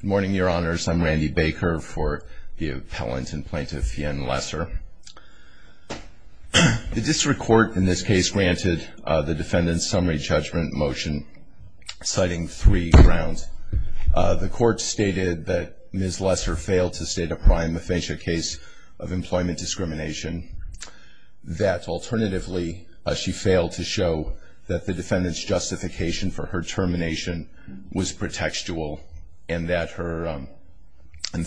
Good morning, Your Honors. I'm Randy Baker for the appellant and plaintiff, Fiyen Lessor. The district court in this case granted the defendant's summary judgment motion citing three grounds. The court stated that Ms. Lessor failed to state a prime offense case of employment discrimination, that alternatively she failed to show that the defendant's justification for her termination was pretextual, and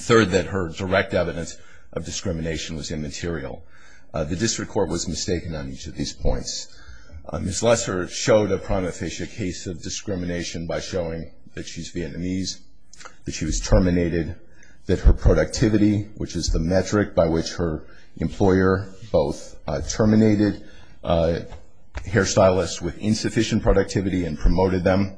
third, that her direct evidence of discrimination was immaterial. The district court was mistaken on each of these points. Ms. Lessor showed a prime offense case of discrimination by showing that she's Vietnamese, that she was terminated, that her productivity, which is the metric by which her employer both terminated hairstylists with insufficient productivity and promoted them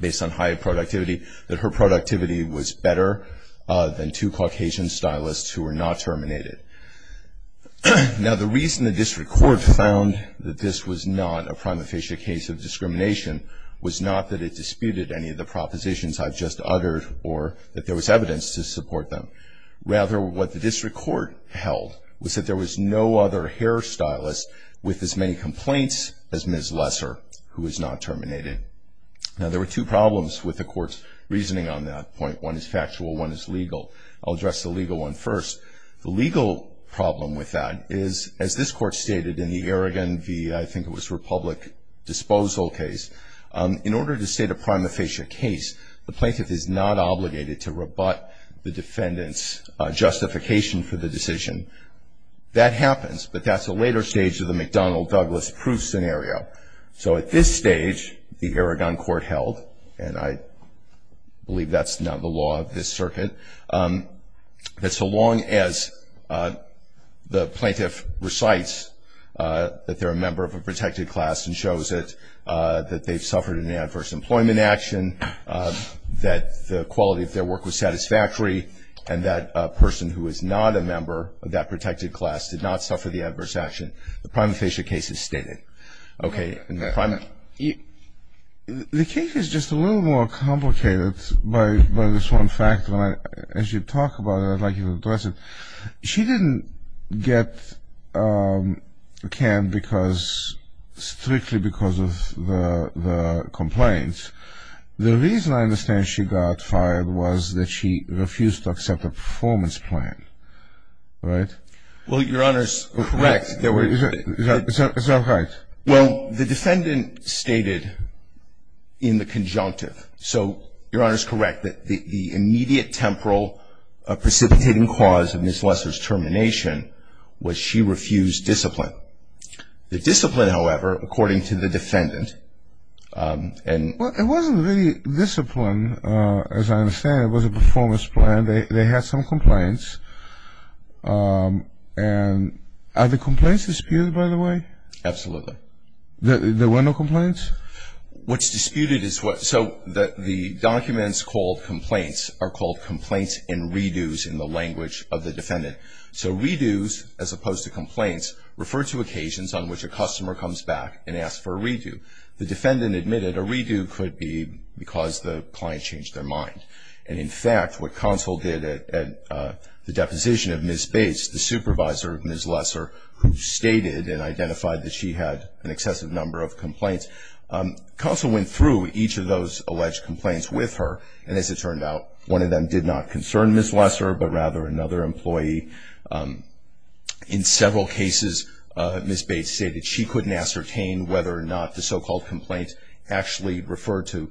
based on high productivity, that her productivity was better than two Caucasian stylists who were not terminated. Now the reason the district court found that this was not a prime offense case of discrimination was not that it disputed any of the propositions I've just uttered or that there was evidence to support them. Rather, what the district court held was that there was no other hairstylist with as many complaints as Ms. Lessor, who was not terminated. Now there were two problems with the court's reasoning on that point. One is factual, one is legal. I'll address the legal one first. The legal problem with that is, as this court stated in the Arrogant v. I think it was Republic Disposal case, in order to state a prime offense case, the plaintiff is not obligated to rebut the defendant's justification for the decision. That happens, but that's a later stage of the McDonnell-Douglas proof scenario. So at this stage, the Arrogant court held, and I believe that's now the law of this circuit, that so long as the plaintiff recites that they're a member of a protected class and shows it, that they've suffered an adverse employment action, that the quality of their work was satisfactory, and that a person who is not a member of that protected class did not suffer the adverse action, the prime offense case is stated. The case is just a little more complicated by this one fact. As you talk about it, I'd like to go back to the case of Ms. Lesser's termination. The defendant was fired because, strictly because of the complaints. The reason I understand she got fired was that she refused to accept a performance plan, right? Well, Your Honor's correct. Is that right? Well, the defendant stated in the conjunctive, so Your Honor's correct, that the immediate temporal precipitating cause of Ms. Lesser's termination was she refused discipline. The discipline, however, according to the defendant, and... Well, it wasn't really discipline, as I understand. It was a performance plan. They had some complaints. And are the complaints disputed, by the way? Absolutely. There were no complaints? What's disputed is what... So the documents called complaints are called complaints and re-dos in the language of the defendant. So re-dos, as opposed to complaints, refer to occasions on which a customer comes back and asks for a re-do. The defendant admitted a re-do could be because the client changed their mind. And in fact, what counsel did at the deposition of Ms. Bates, the supervisor of Ms. Lesser, who stated and identified that she had an excessive number of complaints, counsel went through each of those alleged complaints with her. And as it turned out, one of them did not concern Ms. Lesser, but rather another employee. In several cases, Ms. Bates stated she couldn't ascertain whether or not the so-called complaint actually referred to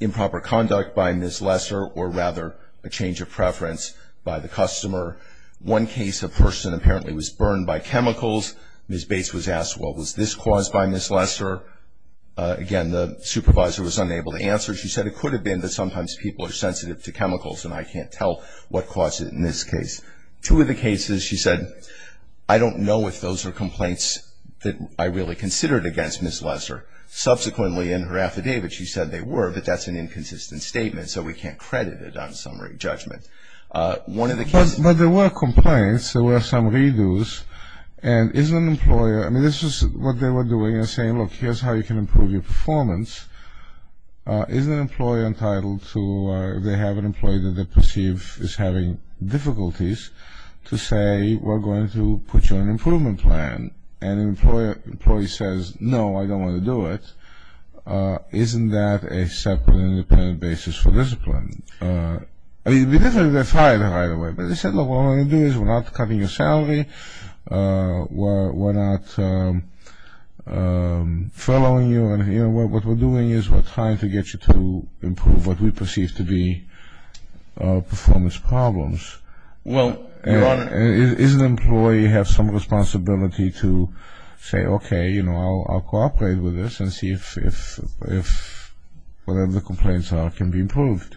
improper conduct by Ms. Lesser, or rather a change of preference by the customer. One case, a person apparently was burned by chemicals. Ms. Bates was asked, well, was this caused by Ms. Lesser? Again, the supervisor was unable to answer. She said it could have been, but sometimes people are sensitive to chemicals and I can't tell what caused it in this case. Two of the cases, she said, I don't know if those are complaints that I really considered against Ms. Lesser. Subsequently, in her affidavit, she said they were, but that's an inconsistent statement, so we can't credit it on summary judgment. One of the cases... But there were complaints, there were some re-dos, and isn't an employer, I mean, this is what they were doing and saying, look, here's how you can improve your performance. Isn't an employer entitled to, if they have an employee that they perceive is having difficulties, to say, we're going to put you on an improvement plan? And an employee says, no, I don't want to do it. Isn't that a separate, independent basis for discipline? I mean, it would be fine either way. But they said, look, what we're going to do is we're not cutting your salary, we're not furloughing you, and what we're doing is we're trying to get you to improve what we perceive to be performance problems. Well, Your Honor... Isn't an employee have some responsibility to say, okay, you know, I'll cooperate with this and see if whatever the complaints are can be improved?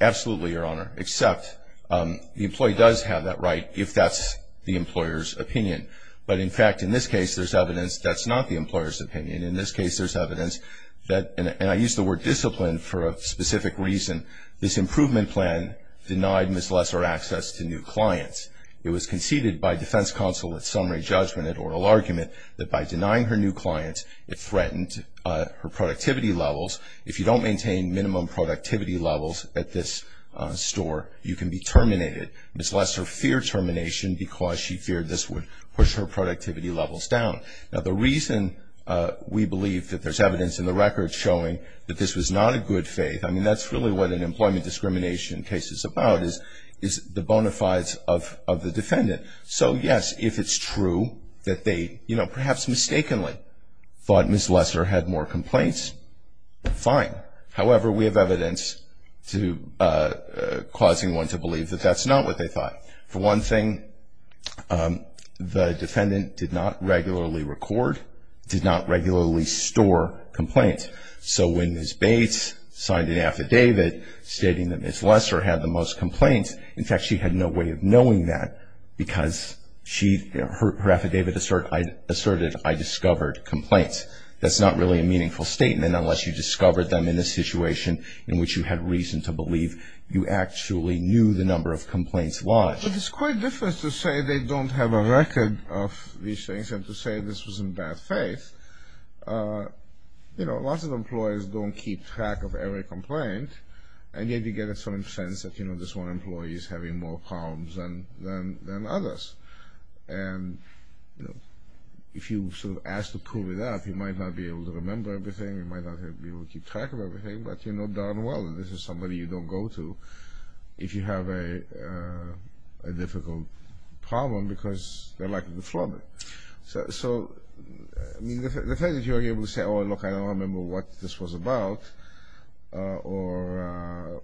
Absolutely, Your Honor, except the employee does have that right if that's the employer's opinion. But in fact, in this case, there's evidence that's not the employer's opinion. In this case, there's evidence that, and I use the word discipline for a specific reason, this improvement plan denied Ms. Lesser access to new clients. It was conceded by defense counsel at summary judgment, at oral argument, that by denying her new clients, it threatened her productivity levels. If you don't maintain minimum productivity levels at this store, you can be terminated. Ms. Lesser feared termination because she feared this would push her productivity levels down. Now, the reason we believe that there's evidence in the record showing that this was not a good faith, I mean, that's really what an employment discrimination case is about, is the bona fides of the defendant. So, yes, if it's true that they, you know, perhaps mistakenly thought Ms. Lesser had more complaints, fine. However, we have evidence to causing one to believe that that's not what they thought. For one thing, the defendant did not regularly record, did not regularly store complaints. So when Ms. Bates signed an affidavit stating that Ms. Lesser had the most complaints, in fact, she had no way of I discovered complaints. That's not really a meaningful statement unless you discovered them in a situation in which you had reason to believe you actually knew the number of complaints lodged. But it's quite different to say they don't have a record of these things than to say this was in bad faith. You know, lots of employers don't keep track of every complaint, and yet you get a certain sense that, you know, this one employee is having more problems than others. And, you know, if you sort of asked to prove it out, you might not be able to remember everything, you might not be able to keep track of everything, but you know darn well that this is somebody you don't go to if you have a difficult problem because they're likely to flub it. So, I mean, the fact that you are able to say, oh, look, I don't remember what this was about, or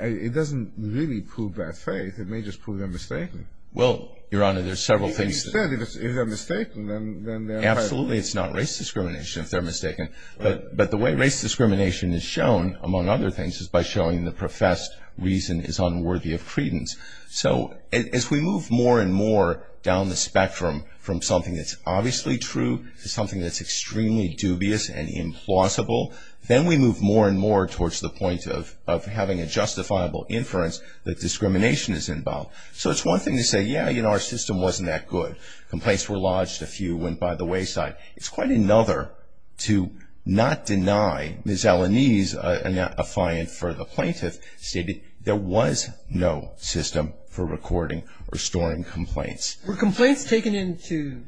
it doesn't really prove bad faith. It may just prove they're mistaken. Well, Your Honor, there's several things that If they're mistaken, then they're Absolutely, it's not race discrimination if they're mistaken. But the way race discrimination is shown, among other things, is by showing the professed reason is unworthy of credence. So, as we move more and more down the spectrum from something that's obviously true to something that's extremely dubious and implausible, then we move more and more towards the point of having a justifiable inference that discrimination is involved. So, it's one thing to say, yeah, you know, our system wasn't that good. Complaints were lodged, a few went by the wayside. It's quite another to not deny Ms. Alanese, a client for the plaintiff, stated there was no system for recording or storing complaints. Were complaints taken into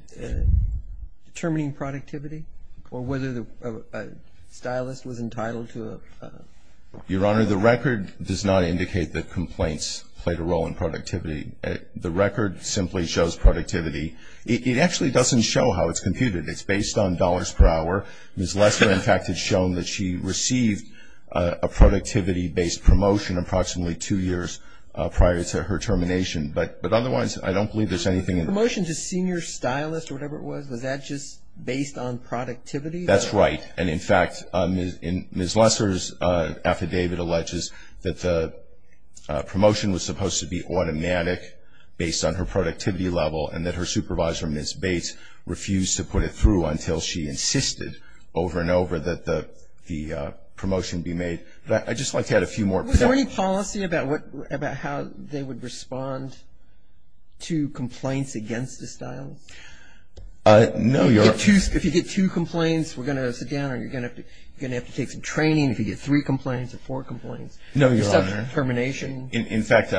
determining productivity, or whether a stylist was entitled to a Your Honor, the record does not indicate that complaints played a role in productivity. The record simply shows productivity. It actually doesn't show how it's computed. It's based on dollars per hour. Ms. Lester, in fact, has shown that she received a productivity-based promotion approximately two years prior to her termination. But otherwise, I don't believe there's anything Promotion to senior stylist or whatever it was, was that just based on productivity? That's right. And in fact, Ms. Lester's affidavit alleges that the promotion was supposed to be automatic based on her productivity level, and that her supervisor, Ms. Bates, refused to put it through until she insisted over and over that the promotion be made. But I'd just like to add a few more points. Was there any policy about how they would respond to complaints against a stylist? No, Your Honor. If you get two complaints, we're going to sit down, or you're going to have to take some training. If you get three complaints or four complaints. No, Your Honor. You're subject to termination. In fact,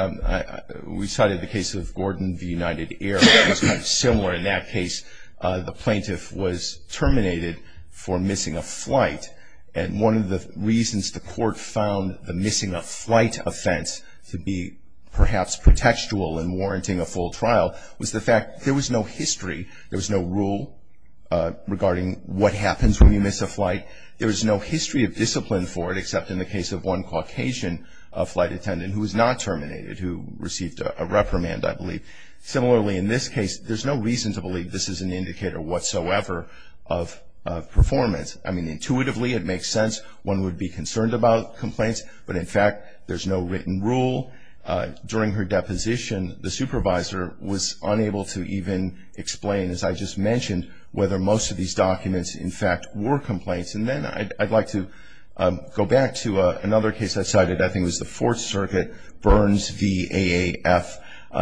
we cited the case of Gordon v. United Air, which is kind of similar in that case. The plaintiff was terminated for missing a flight. And one of the reasons the court found the missing a flight offense to be perhaps protectual in warranting a full trial was the fact there was no history. There was no rule regarding what happens when you miss a flight. There was no history of discipline for it, except in the case of one Caucasian flight attendant who was not terminated, who received a reprimand, I believe. Similarly, in this case, there's no reason to believe this is an indicator whatsoever of performance. I mean, intuitively it makes sense one would be concerned about complaints, but in fact there's no written rule. During her deposition, the supervisor was unable to even explain, as I just mentioned, whether most of these documents in fact were complaints. And then I'd like to go back to another case I cited. I think it was the Fourth Circuit, Burns v. AAF.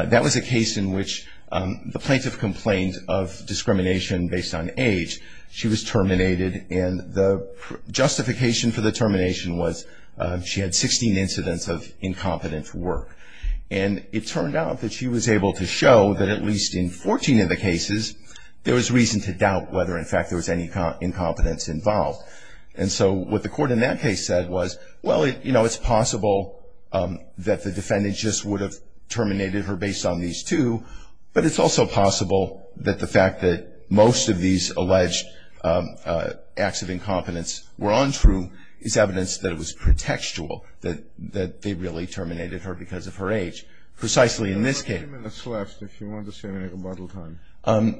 That was a case in which the plaintiff complained of discrimination based on age. She was terminated, and the justification for the termination was she had 16 incidents of incompetent work. And it turned out that she was able to show that at least in 14 of the cases, there was reason to doubt whether in fact there was any incompetence involved. And so what the court in that case said was, well, you know, it's possible that the defendant just would have terminated her based on these two, but it's also possible that the fact that most of these alleged acts of incompetence were untrue is evidence that it was pretextual that they really terminated her because of her age. Precisely in this case. You have 30 minutes left, if you want to say anything about the time.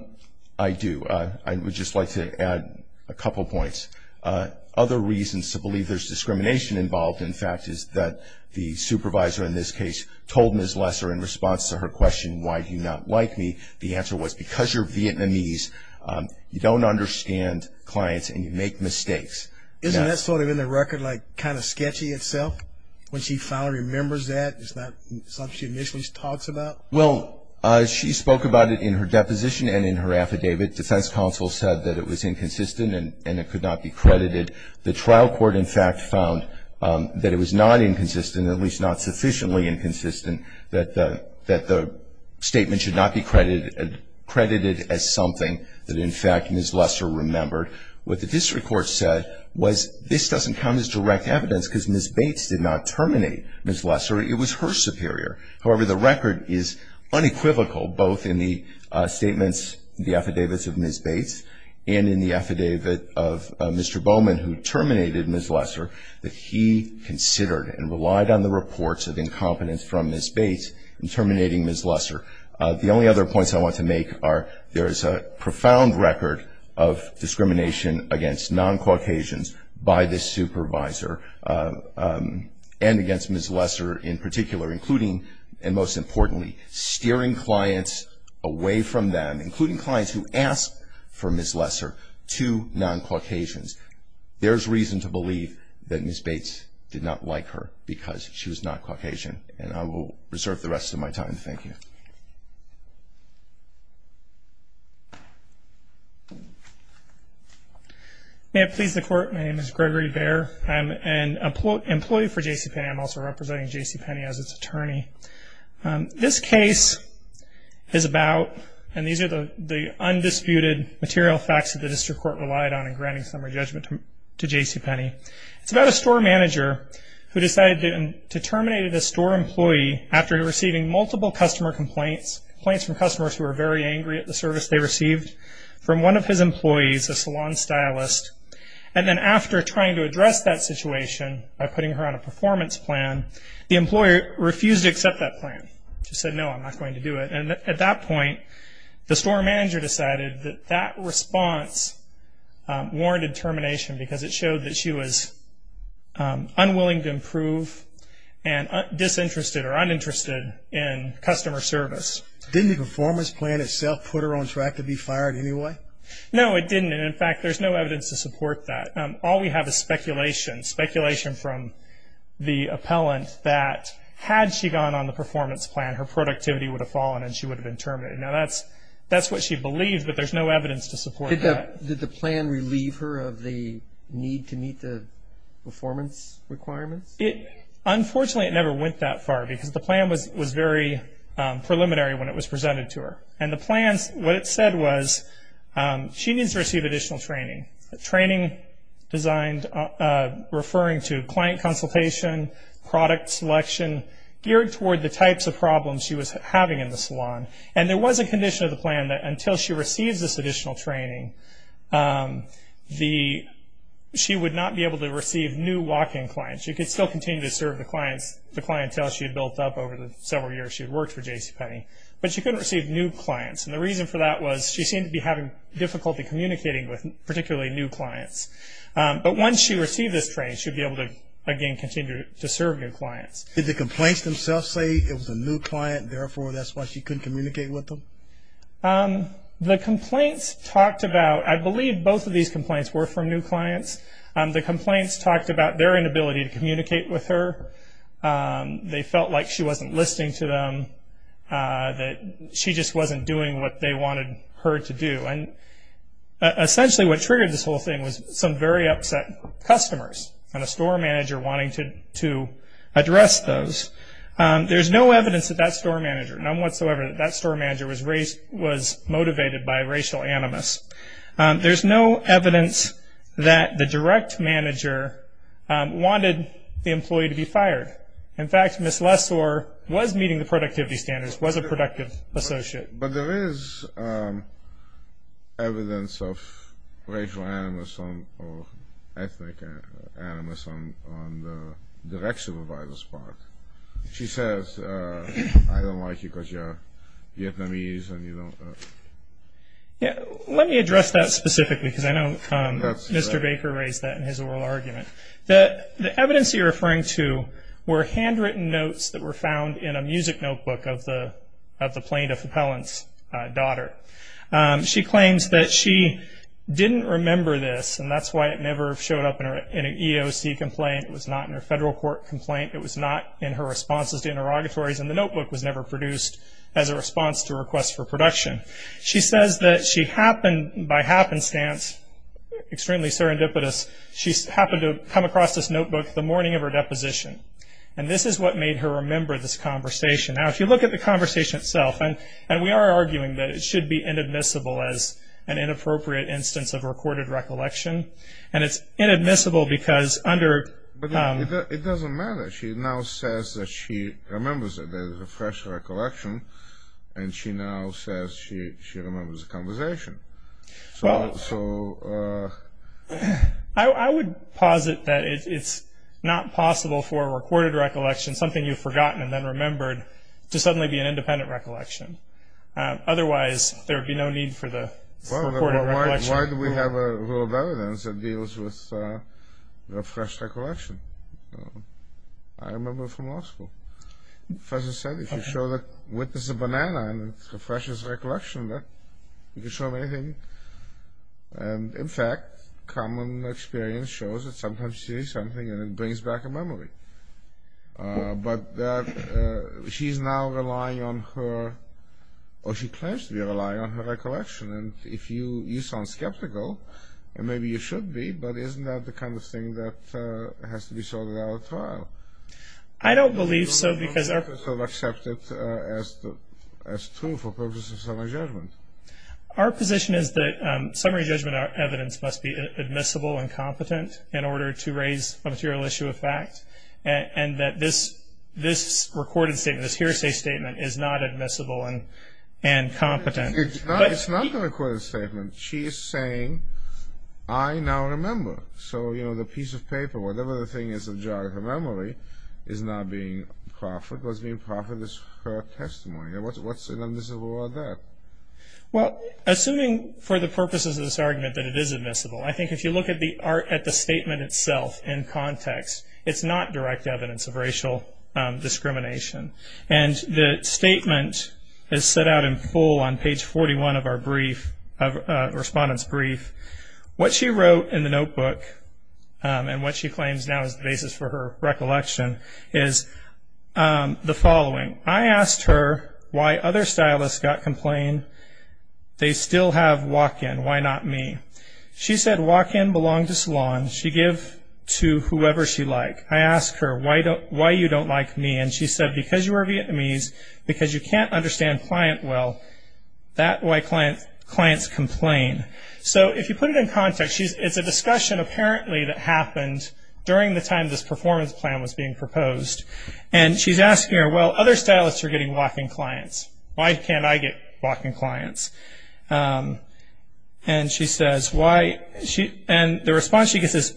I do. I would just like to add a couple points. Other reasons to believe there's discrimination involved, in fact, is that the supervisor in this case told Ms. Lesser in response to her question, why do you not like me, the answer was because you're Vietnamese, you don't understand clients and you make mistakes. Isn't that sort of in the record like kind of sketchy itself, when she finally remembers that? Is that something she initially talks about? Well, she spoke about it in her deposition and in her affidavit. The defense counsel said that it was inconsistent and it could not be credited. The trial court, in fact, found that it was not inconsistent, at least not sufficiently inconsistent, that the statement should not be credited as something that, in fact, Ms. Lesser remembered. What the district court said was this doesn't count as direct evidence because Ms. Bates did not terminate Ms. Lesser, it was her superior. However, the record is unequivocal both in the statements, the affidavits of Ms. Bates and in the affidavit of Mr. Bowman who terminated Ms. Lesser that he considered and relied on the reports of incompetence from Ms. Bates in terminating Ms. Lesser. The only other points I want to make are there is a profound record of discrimination against non-Caucasians by this supervisor and against Ms. Lesser in particular, including and most importantly, steering clients away from them, including clients who asked for Ms. Lesser to non-Caucasians. There is reason to believe that Ms. Bates did not like her because she was not Caucasian. And I will reserve the rest of my time. Thank you. May it please the Court, my name is Gregory Bair. I'm an employee for JCPenney. I'm also representing JCPenney as its attorney. This case is about, and these are the undisputed material facts that the district court relied on in granting summary judgment to JCPenney, it's about a store manager who decided to terminate a store employee after receiving multiple customer complaints, complaints from customers who were very angry at the service they received from one of his employees, a salon stylist, and then after trying to address that situation by putting her on a performance plan, the employer refused to accept that plan. She said, no, I'm not going to do it. And at that point, the store manager decided that that response warranted termination because it showed that she was unwilling to improve and disinterested or uninterested in customer service. Didn't the performance plan itself put her on track to be fired anyway? No, it didn't. And in fact, there's no evidence to support that. All we have is speculation, speculation from the appellant that had she gone on the performance plan, her productivity would have fallen and she would have been terminated. Now, that's what she believed, but there's no evidence to support that. Did the plan relieve her of the need to meet the performance requirements? Unfortunately, it never went that far because the plan was very preliminary when it was presented to her. And the plan, what it said was she needs to receive additional training, training referring to client consultation, product selection, geared toward the types of problems she was having in the salon. And there was a condition of the plan that until she receives this additional training, she would not be able to receive new walk-in clients. She could still continue to serve the clients, the clientele she had built up over the several years she had worked for JCPenney, but she couldn't receive new clients. And the reason for that was she seemed to be having difficulty communicating with particularly new clients. But once she received this training, she would be able to again continue to serve new clients. Did the complaints themselves say it was a new client, therefore that's why she couldn't communicate with them? The complaints talked about, I believe both of these complaints were from new clients. The complaints talked about their inability to communicate with her. They felt like she wasn't listening to them, that she just wasn't doing what they wanted her to do. And essentially what triggered this whole thing was some very upset customers and a store manager wanting to address those. There's no evidence that that store manager, none whatsoever, that that store manager was motivated by racial animus. There's no evidence that the direct manager wanted the employee to be fired. In fact, Ms. Lessor was meeting the productivity standards, was a productive associate. But there is evidence of racial animus or ethnic animus on the direct supervisor's part. She says, I don't like you because you're Vietnamese. Let me address that specifically because I know Mr. Baker raised that in his oral argument. The evidence you're referring to were handwritten notes that were found in a music notebook of the plaintiff appellant's daughter. She claims that she didn't remember this, and that's why it never showed up in an EOC complaint. It was not in her federal court complaint. It was not in her responses to interrogatories. And the notebook was never produced as a response to a request for production. She says that she happened, by happenstance, extremely serendipitous, she happened to come across this notebook the morning of her deposition. And this is what made her remember this conversation. Now, if you look at the conversation itself, and we are arguing that it should be inadmissible as an inappropriate instance of recorded recollection, and it's inadmissible because under But it doesn't matter. She now says that she remembers it as a fresh recollection, and she now says she remembers the conversation. So I would posit that it's not possible for a recorded recollection, something you've forgotten and then remembered, to suddenly be an independent recollection. Otherwise, there would be no need for the recorded recollection. Why do we have a rule of evidence that deals with a fresh recollection? I remember from law school. As I said, if you show the witness a banana and it's a fresh recollection, you can show them anything. And, in fact, common experience shows that sometimes she sees something and it brings back a memory. But she's now relying on her, or she claims to be relying on her recollection. And if you, you sound skeptical, and maybe you should be, but isn't that the kind of thing that has to be sorted out at trial? I don't believe so because our You don't want to accept it as true for purposes of a judgment. Our position is that summary judgment evidence must be admissible and competent in order to raise a material issue of fact, and that this recorded statement, this hearsay statement, is not admissible and competent. It's not the recorded statement. She is saying, I now remember. So, you know, the piece of paper, whatever the thing is in the jar of her memory, is now being proffered. What's being proffered is her testimony. What's admissible about that? Well, assuming for the purposes of this argument that it is admissible, I think if you look at the statement itself in context, it's not direct evidence of racial discrimination. And the statement is set out in full on page 41 of our brief, of the respondent's brief. What she wrote in the notebook, and what she claims now is the basis for her recollection, is the following. I asked her why other stylists got complained. They still have walk-in. Why not me? She said walk-in belonged to salon. She give to whoever she like. I asked her, why you don't like me? And she said, because you are Vietnamese, because you can't understand client well. That's why clients complain. So if you put it in context, it's a discussion apparently that happened during the time this performance plan was being proposed. And she's asking her, well, other stylists are getting walk-in clients. Why can't I get walk-in clients? And the response she gets is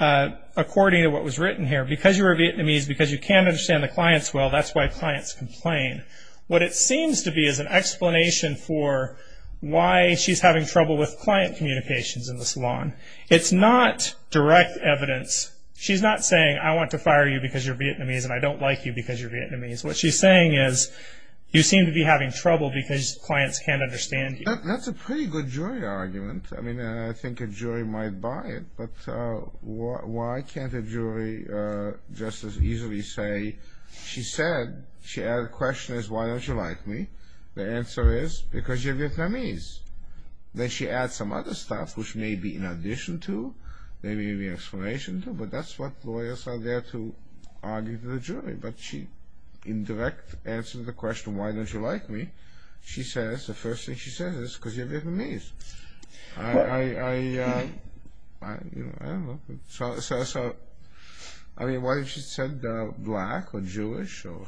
according to what was written here. Because you are Vietnamese, because you can't understand the clients well, that's why clients complain. What it seems to be is an explanation for why she's having trouble with client communications in the salon. It's not direct evidence. She's not saying, I want to fire you because you're Vietnamese, and I don't like you because you're Vietnamese. What she's saying is, you seem to be having trouble because clients can't understand you. That's a pretty good jury argument. I mean, I think a jury might buy it, but why can't a jury just as easily say, she said, she had a question, why don't you like me? The answer is, because you're Vietnamese. Then she adds some other stuff, which may be in addition to, may be an explanation to, but that's what lawyers are there to argue to the jury. But she, in direct answer to the question, why don't you like me? She says, the first thing she says is, because you're Vietnamese. I don't know. So, I mean, what if she said black or Jewish or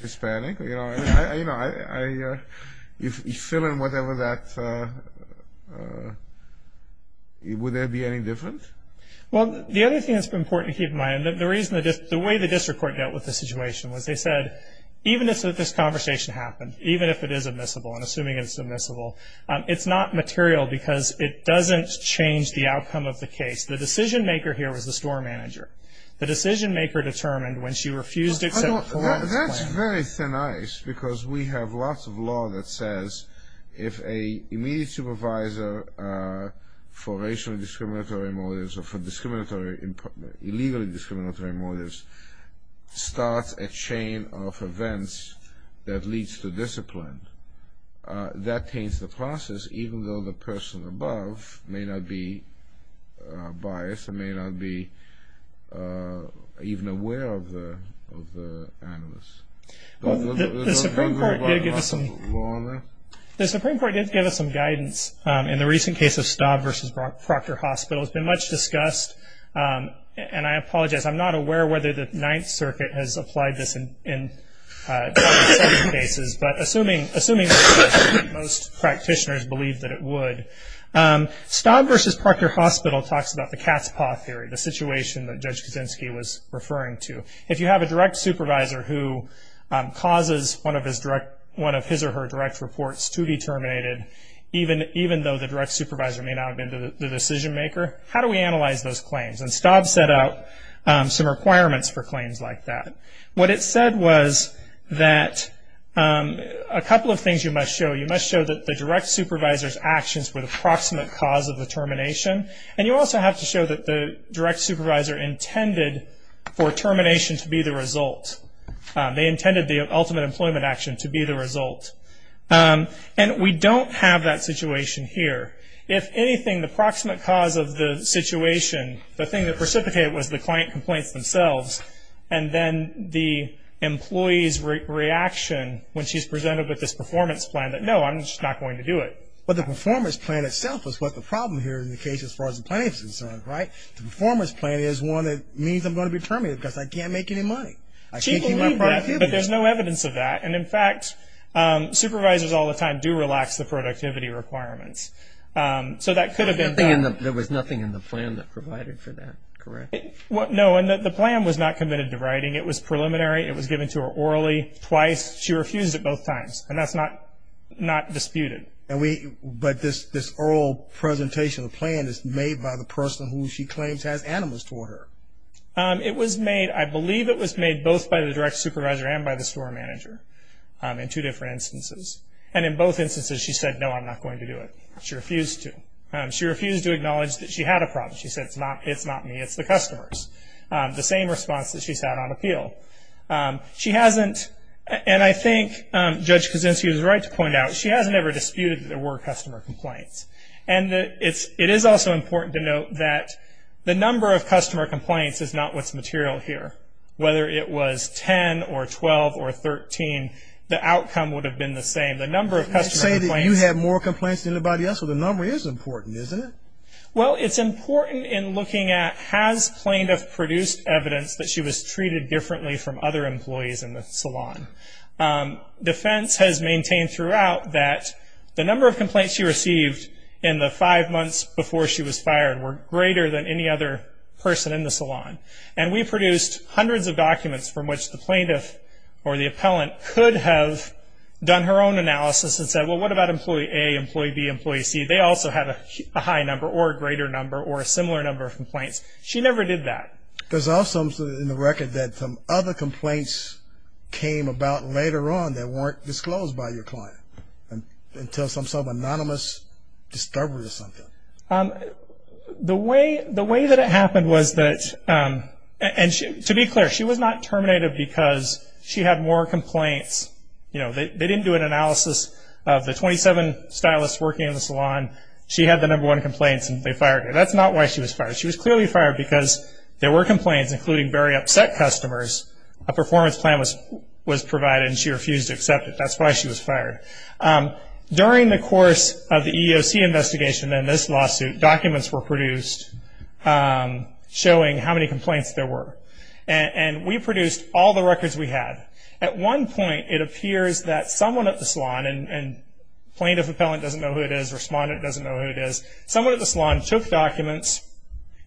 Hispanic? You know, if you fill in whatever that, would there be any difference? Well, the other thing that's important to keep in mind, the reason that the way the district court dealt with the situation was they said, even if this conversation happened, even if it is admissible, and assuming it's admissible, it's not material because it doesn't change the outcome of the case. The decision maker here was the store manager. Well, that's very thin ice, because we have lots of law that says, if an immediate supervisor for racially discriminatory motives or for discriminatory, illegally discriminatory motives starts a chain of events that leads to discipline, that pains the process, even though the person above may not be biased or may not be even aware of the animus. The Supreme Court did give us some guidance in the recent case of Staub v. Proctor Hospital. It's been much discussed, and I apologize, I'm not aware whether the Ninth Circuit has applied this in some cases, but assuming most practitioners believe that it would. Staub v. Proctor Hospital talks about the cat's paw theory, the situation that Judge Kuczynski was referring to. If you have a direct supervisor who causes one of his or her direct reports to be terminated, even though the direct supervisor may not have been the decision maker, how do we analyze those claims? Staub set out some requirements for claims like that. What it said was that a couple of things you must show. You have to show that the direct supervisor's actions were the proximate cause of the termination, and you also have to show that the direct supervisor intended for termination to be the result. They intended the ultimate employment action to be the result. And we don't have that situation here. If anything, the proximate cause of the situation, the thing that precipitated it was the client complaints themselves, and then the employee's reaction when she's presented with this performance plan, that no, I'm just not going to do it. But the performance plan itself is what the problem here in the case as far as the claim is concerned, right? The performance plan is one that means I'm going to be terminated because I can't make any money. I can't keep my productivity. But there's no evidence of that. And in fact, supervisors all the time do relax the productivity requirements. So that could have been done. There was nothing in the plan that provided for that, correct? No, and the plan was not committed to writing. It was preliminary. It was given to her orally twice. She refused it both times, and that's not disputed. But this oral presentation of the plan is made by the person who she claims has animus toward her. It was made, I believe it was made both by the direct supervisor and by the store manager in two different instances. And in both instances she said, no, I'm not going to do it. She refused to. She refused to acknowledge that she had a problem. She said, it's not me, it's the customers. The same response that she's had on appeal. She hasn't, and I think Judge Kuczynski is right to point out, she hasn't ever disputed that there were customer complaints. And it is also important to note that the number of customer complaints is not what's material here. Whether it was 10 or 12 or 13, the outcome would have been the same. The number of customer complaints. You say that you had more complaints than anybody else, so the number is important, isn't it? Well, it's important in looking at, has plaintiff produced evidence that she was treated differently from other employees in the salon? Defense has maintained throughout that the number of complaints she received in the five months before she was fired were greater than any other person in the salon. And we produced hundreds of documents from which the plaintiff or the appellant could have done her own analysis and said, well, what about employee A, employee B, employee C? They also had a high number or a greater number or a similar number of complaints. She never did that. There's also in the record that some other complaints came about later on that weren't disclosed by your client until some sort of anonymous disturbance or something. The way that it happened was that, and to be clear, she was not terminated because she had more complaints. They didn't do an analysis of the 27 stylists working in the salon. She had the number one complaints and they fired her. That's not why she was fired. She was clearly fired because there were complaints, including very upset customers. A performance plan was provided and she refused to accept it. That's why she was fired. During the course of the EEOC investigation and this lawsuit, documents were produced showing how many complaints there were. And we produced all the records we had. At one point, it appears that someone at the salon, and plaintiff appellant doesn't know who it is, respondent doesn't know who it is, someone at the salon took documents,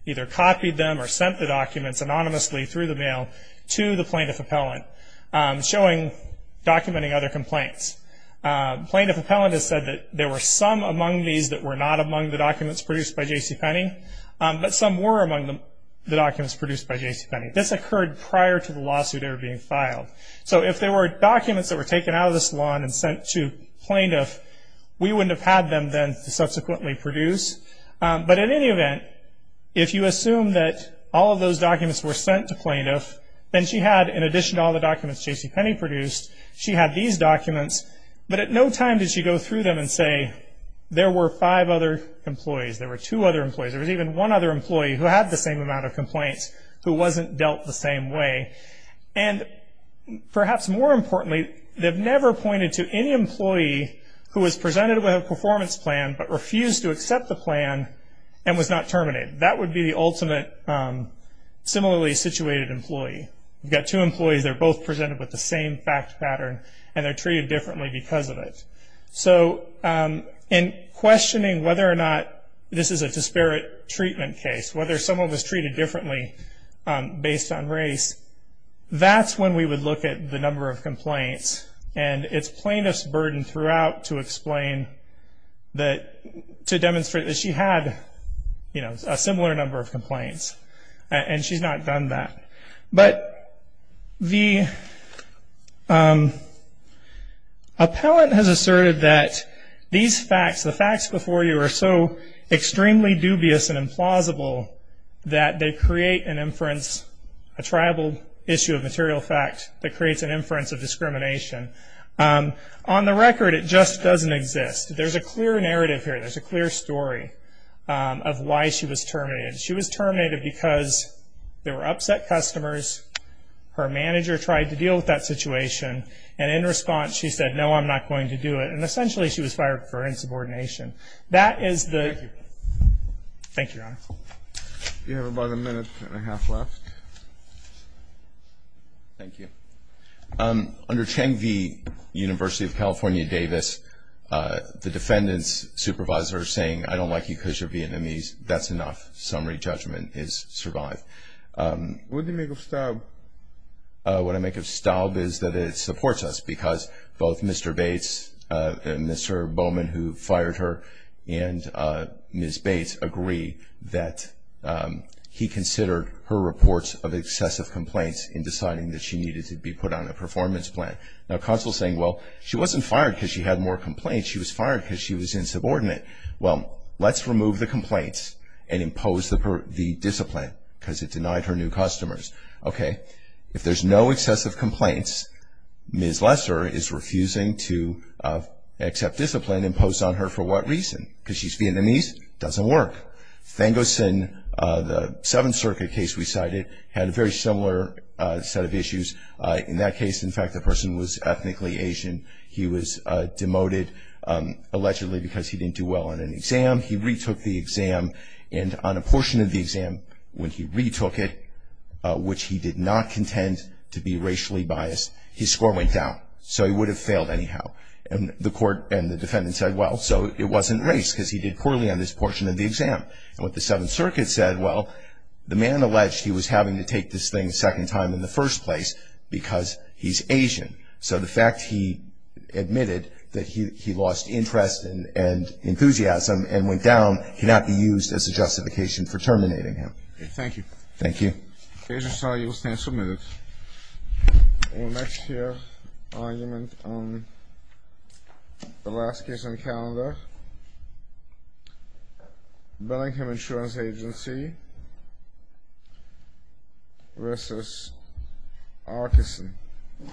either copied them or sent the documents anonymously through the mail to the plaintiff appellant, documenting other complaints. Plaintiff appellant has said that there were some among these that were not among the documents produced by J.C. Penney, but some were among the documents produced by J.C. Penney. This occurred prior to the lawsuit ever being filed. So if there were documents that were taken out of the salon and sent to plaintiff, we wouldn't have had them then to subsequently produce. But in any event, if you assume that all of those documents were sent to plaintiff, then she had, in addition to all the documents J.C. Penney produced, she had these documents, but at no time did she go through them and say, there were five other employees, there were two other employees, there was even one other employee who had the same amount of complaints who wasn't dealt the same way. And perhaps more importantly, they've never pointed to any employee who was presented with a performance plan but refused to accept the plan and was not terminated. That would be the ultimate similarly situated employee. You've got two employees, they're both presented with the same fact pattern and they're treated differently because of it. So in questioning whether or not this is a disparate treatment case, whether someone was treated differently based on race, that's when we would look at the number of complaints. And it's plaintiff's burden throughout to explain that, to demonstrate that she had a similar number of complaints, and she's not done that. But the appellant has asserted that these facts, the facts before you are so extremely dubious and implausible that they create an inference, a tribal issue of material fact that creates an inference of discrimination. On the record, it just doesn't exist. There's a clear narrative here, there's a clear story of why she was terminated. She was terminated because there were upset customers, her manager tried to deal with that situation, and in response she said, no, I'm not going to do it. And essentially she was fired for insubordination. Thank you. Thank you, Your Honor. You have about a minute and a half left. Thank you. Under Chang V. University of California Davis, the defendant's supervisor saying, I don't like you because you're Vietnamese, that's enough. Summary judgment is survived. What do you make of Staub? What I make of Staub is that it supports us because both Mr. Bates, Mr. Bowman who fired her, and Ms. Bates agree that he considered her reports of excessive complaints in deciding that she needed to be put on a performance plan. Now, Counsel is saying, well, she wasn't fired because she had more complaints, she was fired because she was insubordinate. Well, let's remove the complaints and impose the discipline because it denied her new customers. Okay. If there's no excessive complaints, Ms. Lesser is refusing to accept discipline imposed on her for what reason? Because she's Vietnamese? Doesn't work. Thangosin, the Seventh Circuit case we cited, had a very similar set of issues. In that case, in fact, the person was ethnically Asian. He was demoted allegedly because he didn't do well on an exam. He retook the exam. And on a portion of the exam when he retook it, which he did not contend to be racially biased, his score went down. So he would have failed anyhow. And the court and the defendant said, well, so it wasn't race because he did poorly on this portion of the exam. And what the Seventh Circuit said, well, the man alleged he was having to take this thing a second time in the first place because he's Asian. So the fact he admitted that he lost interest and enthusiasm and went down cannot be used as a justification for terminating him. Okay. Thank you. Thank you. Agents, you will stand submitted. We'll next hear argument on the last case on the calendar. Billingham Insurance Agency v. Arkeson.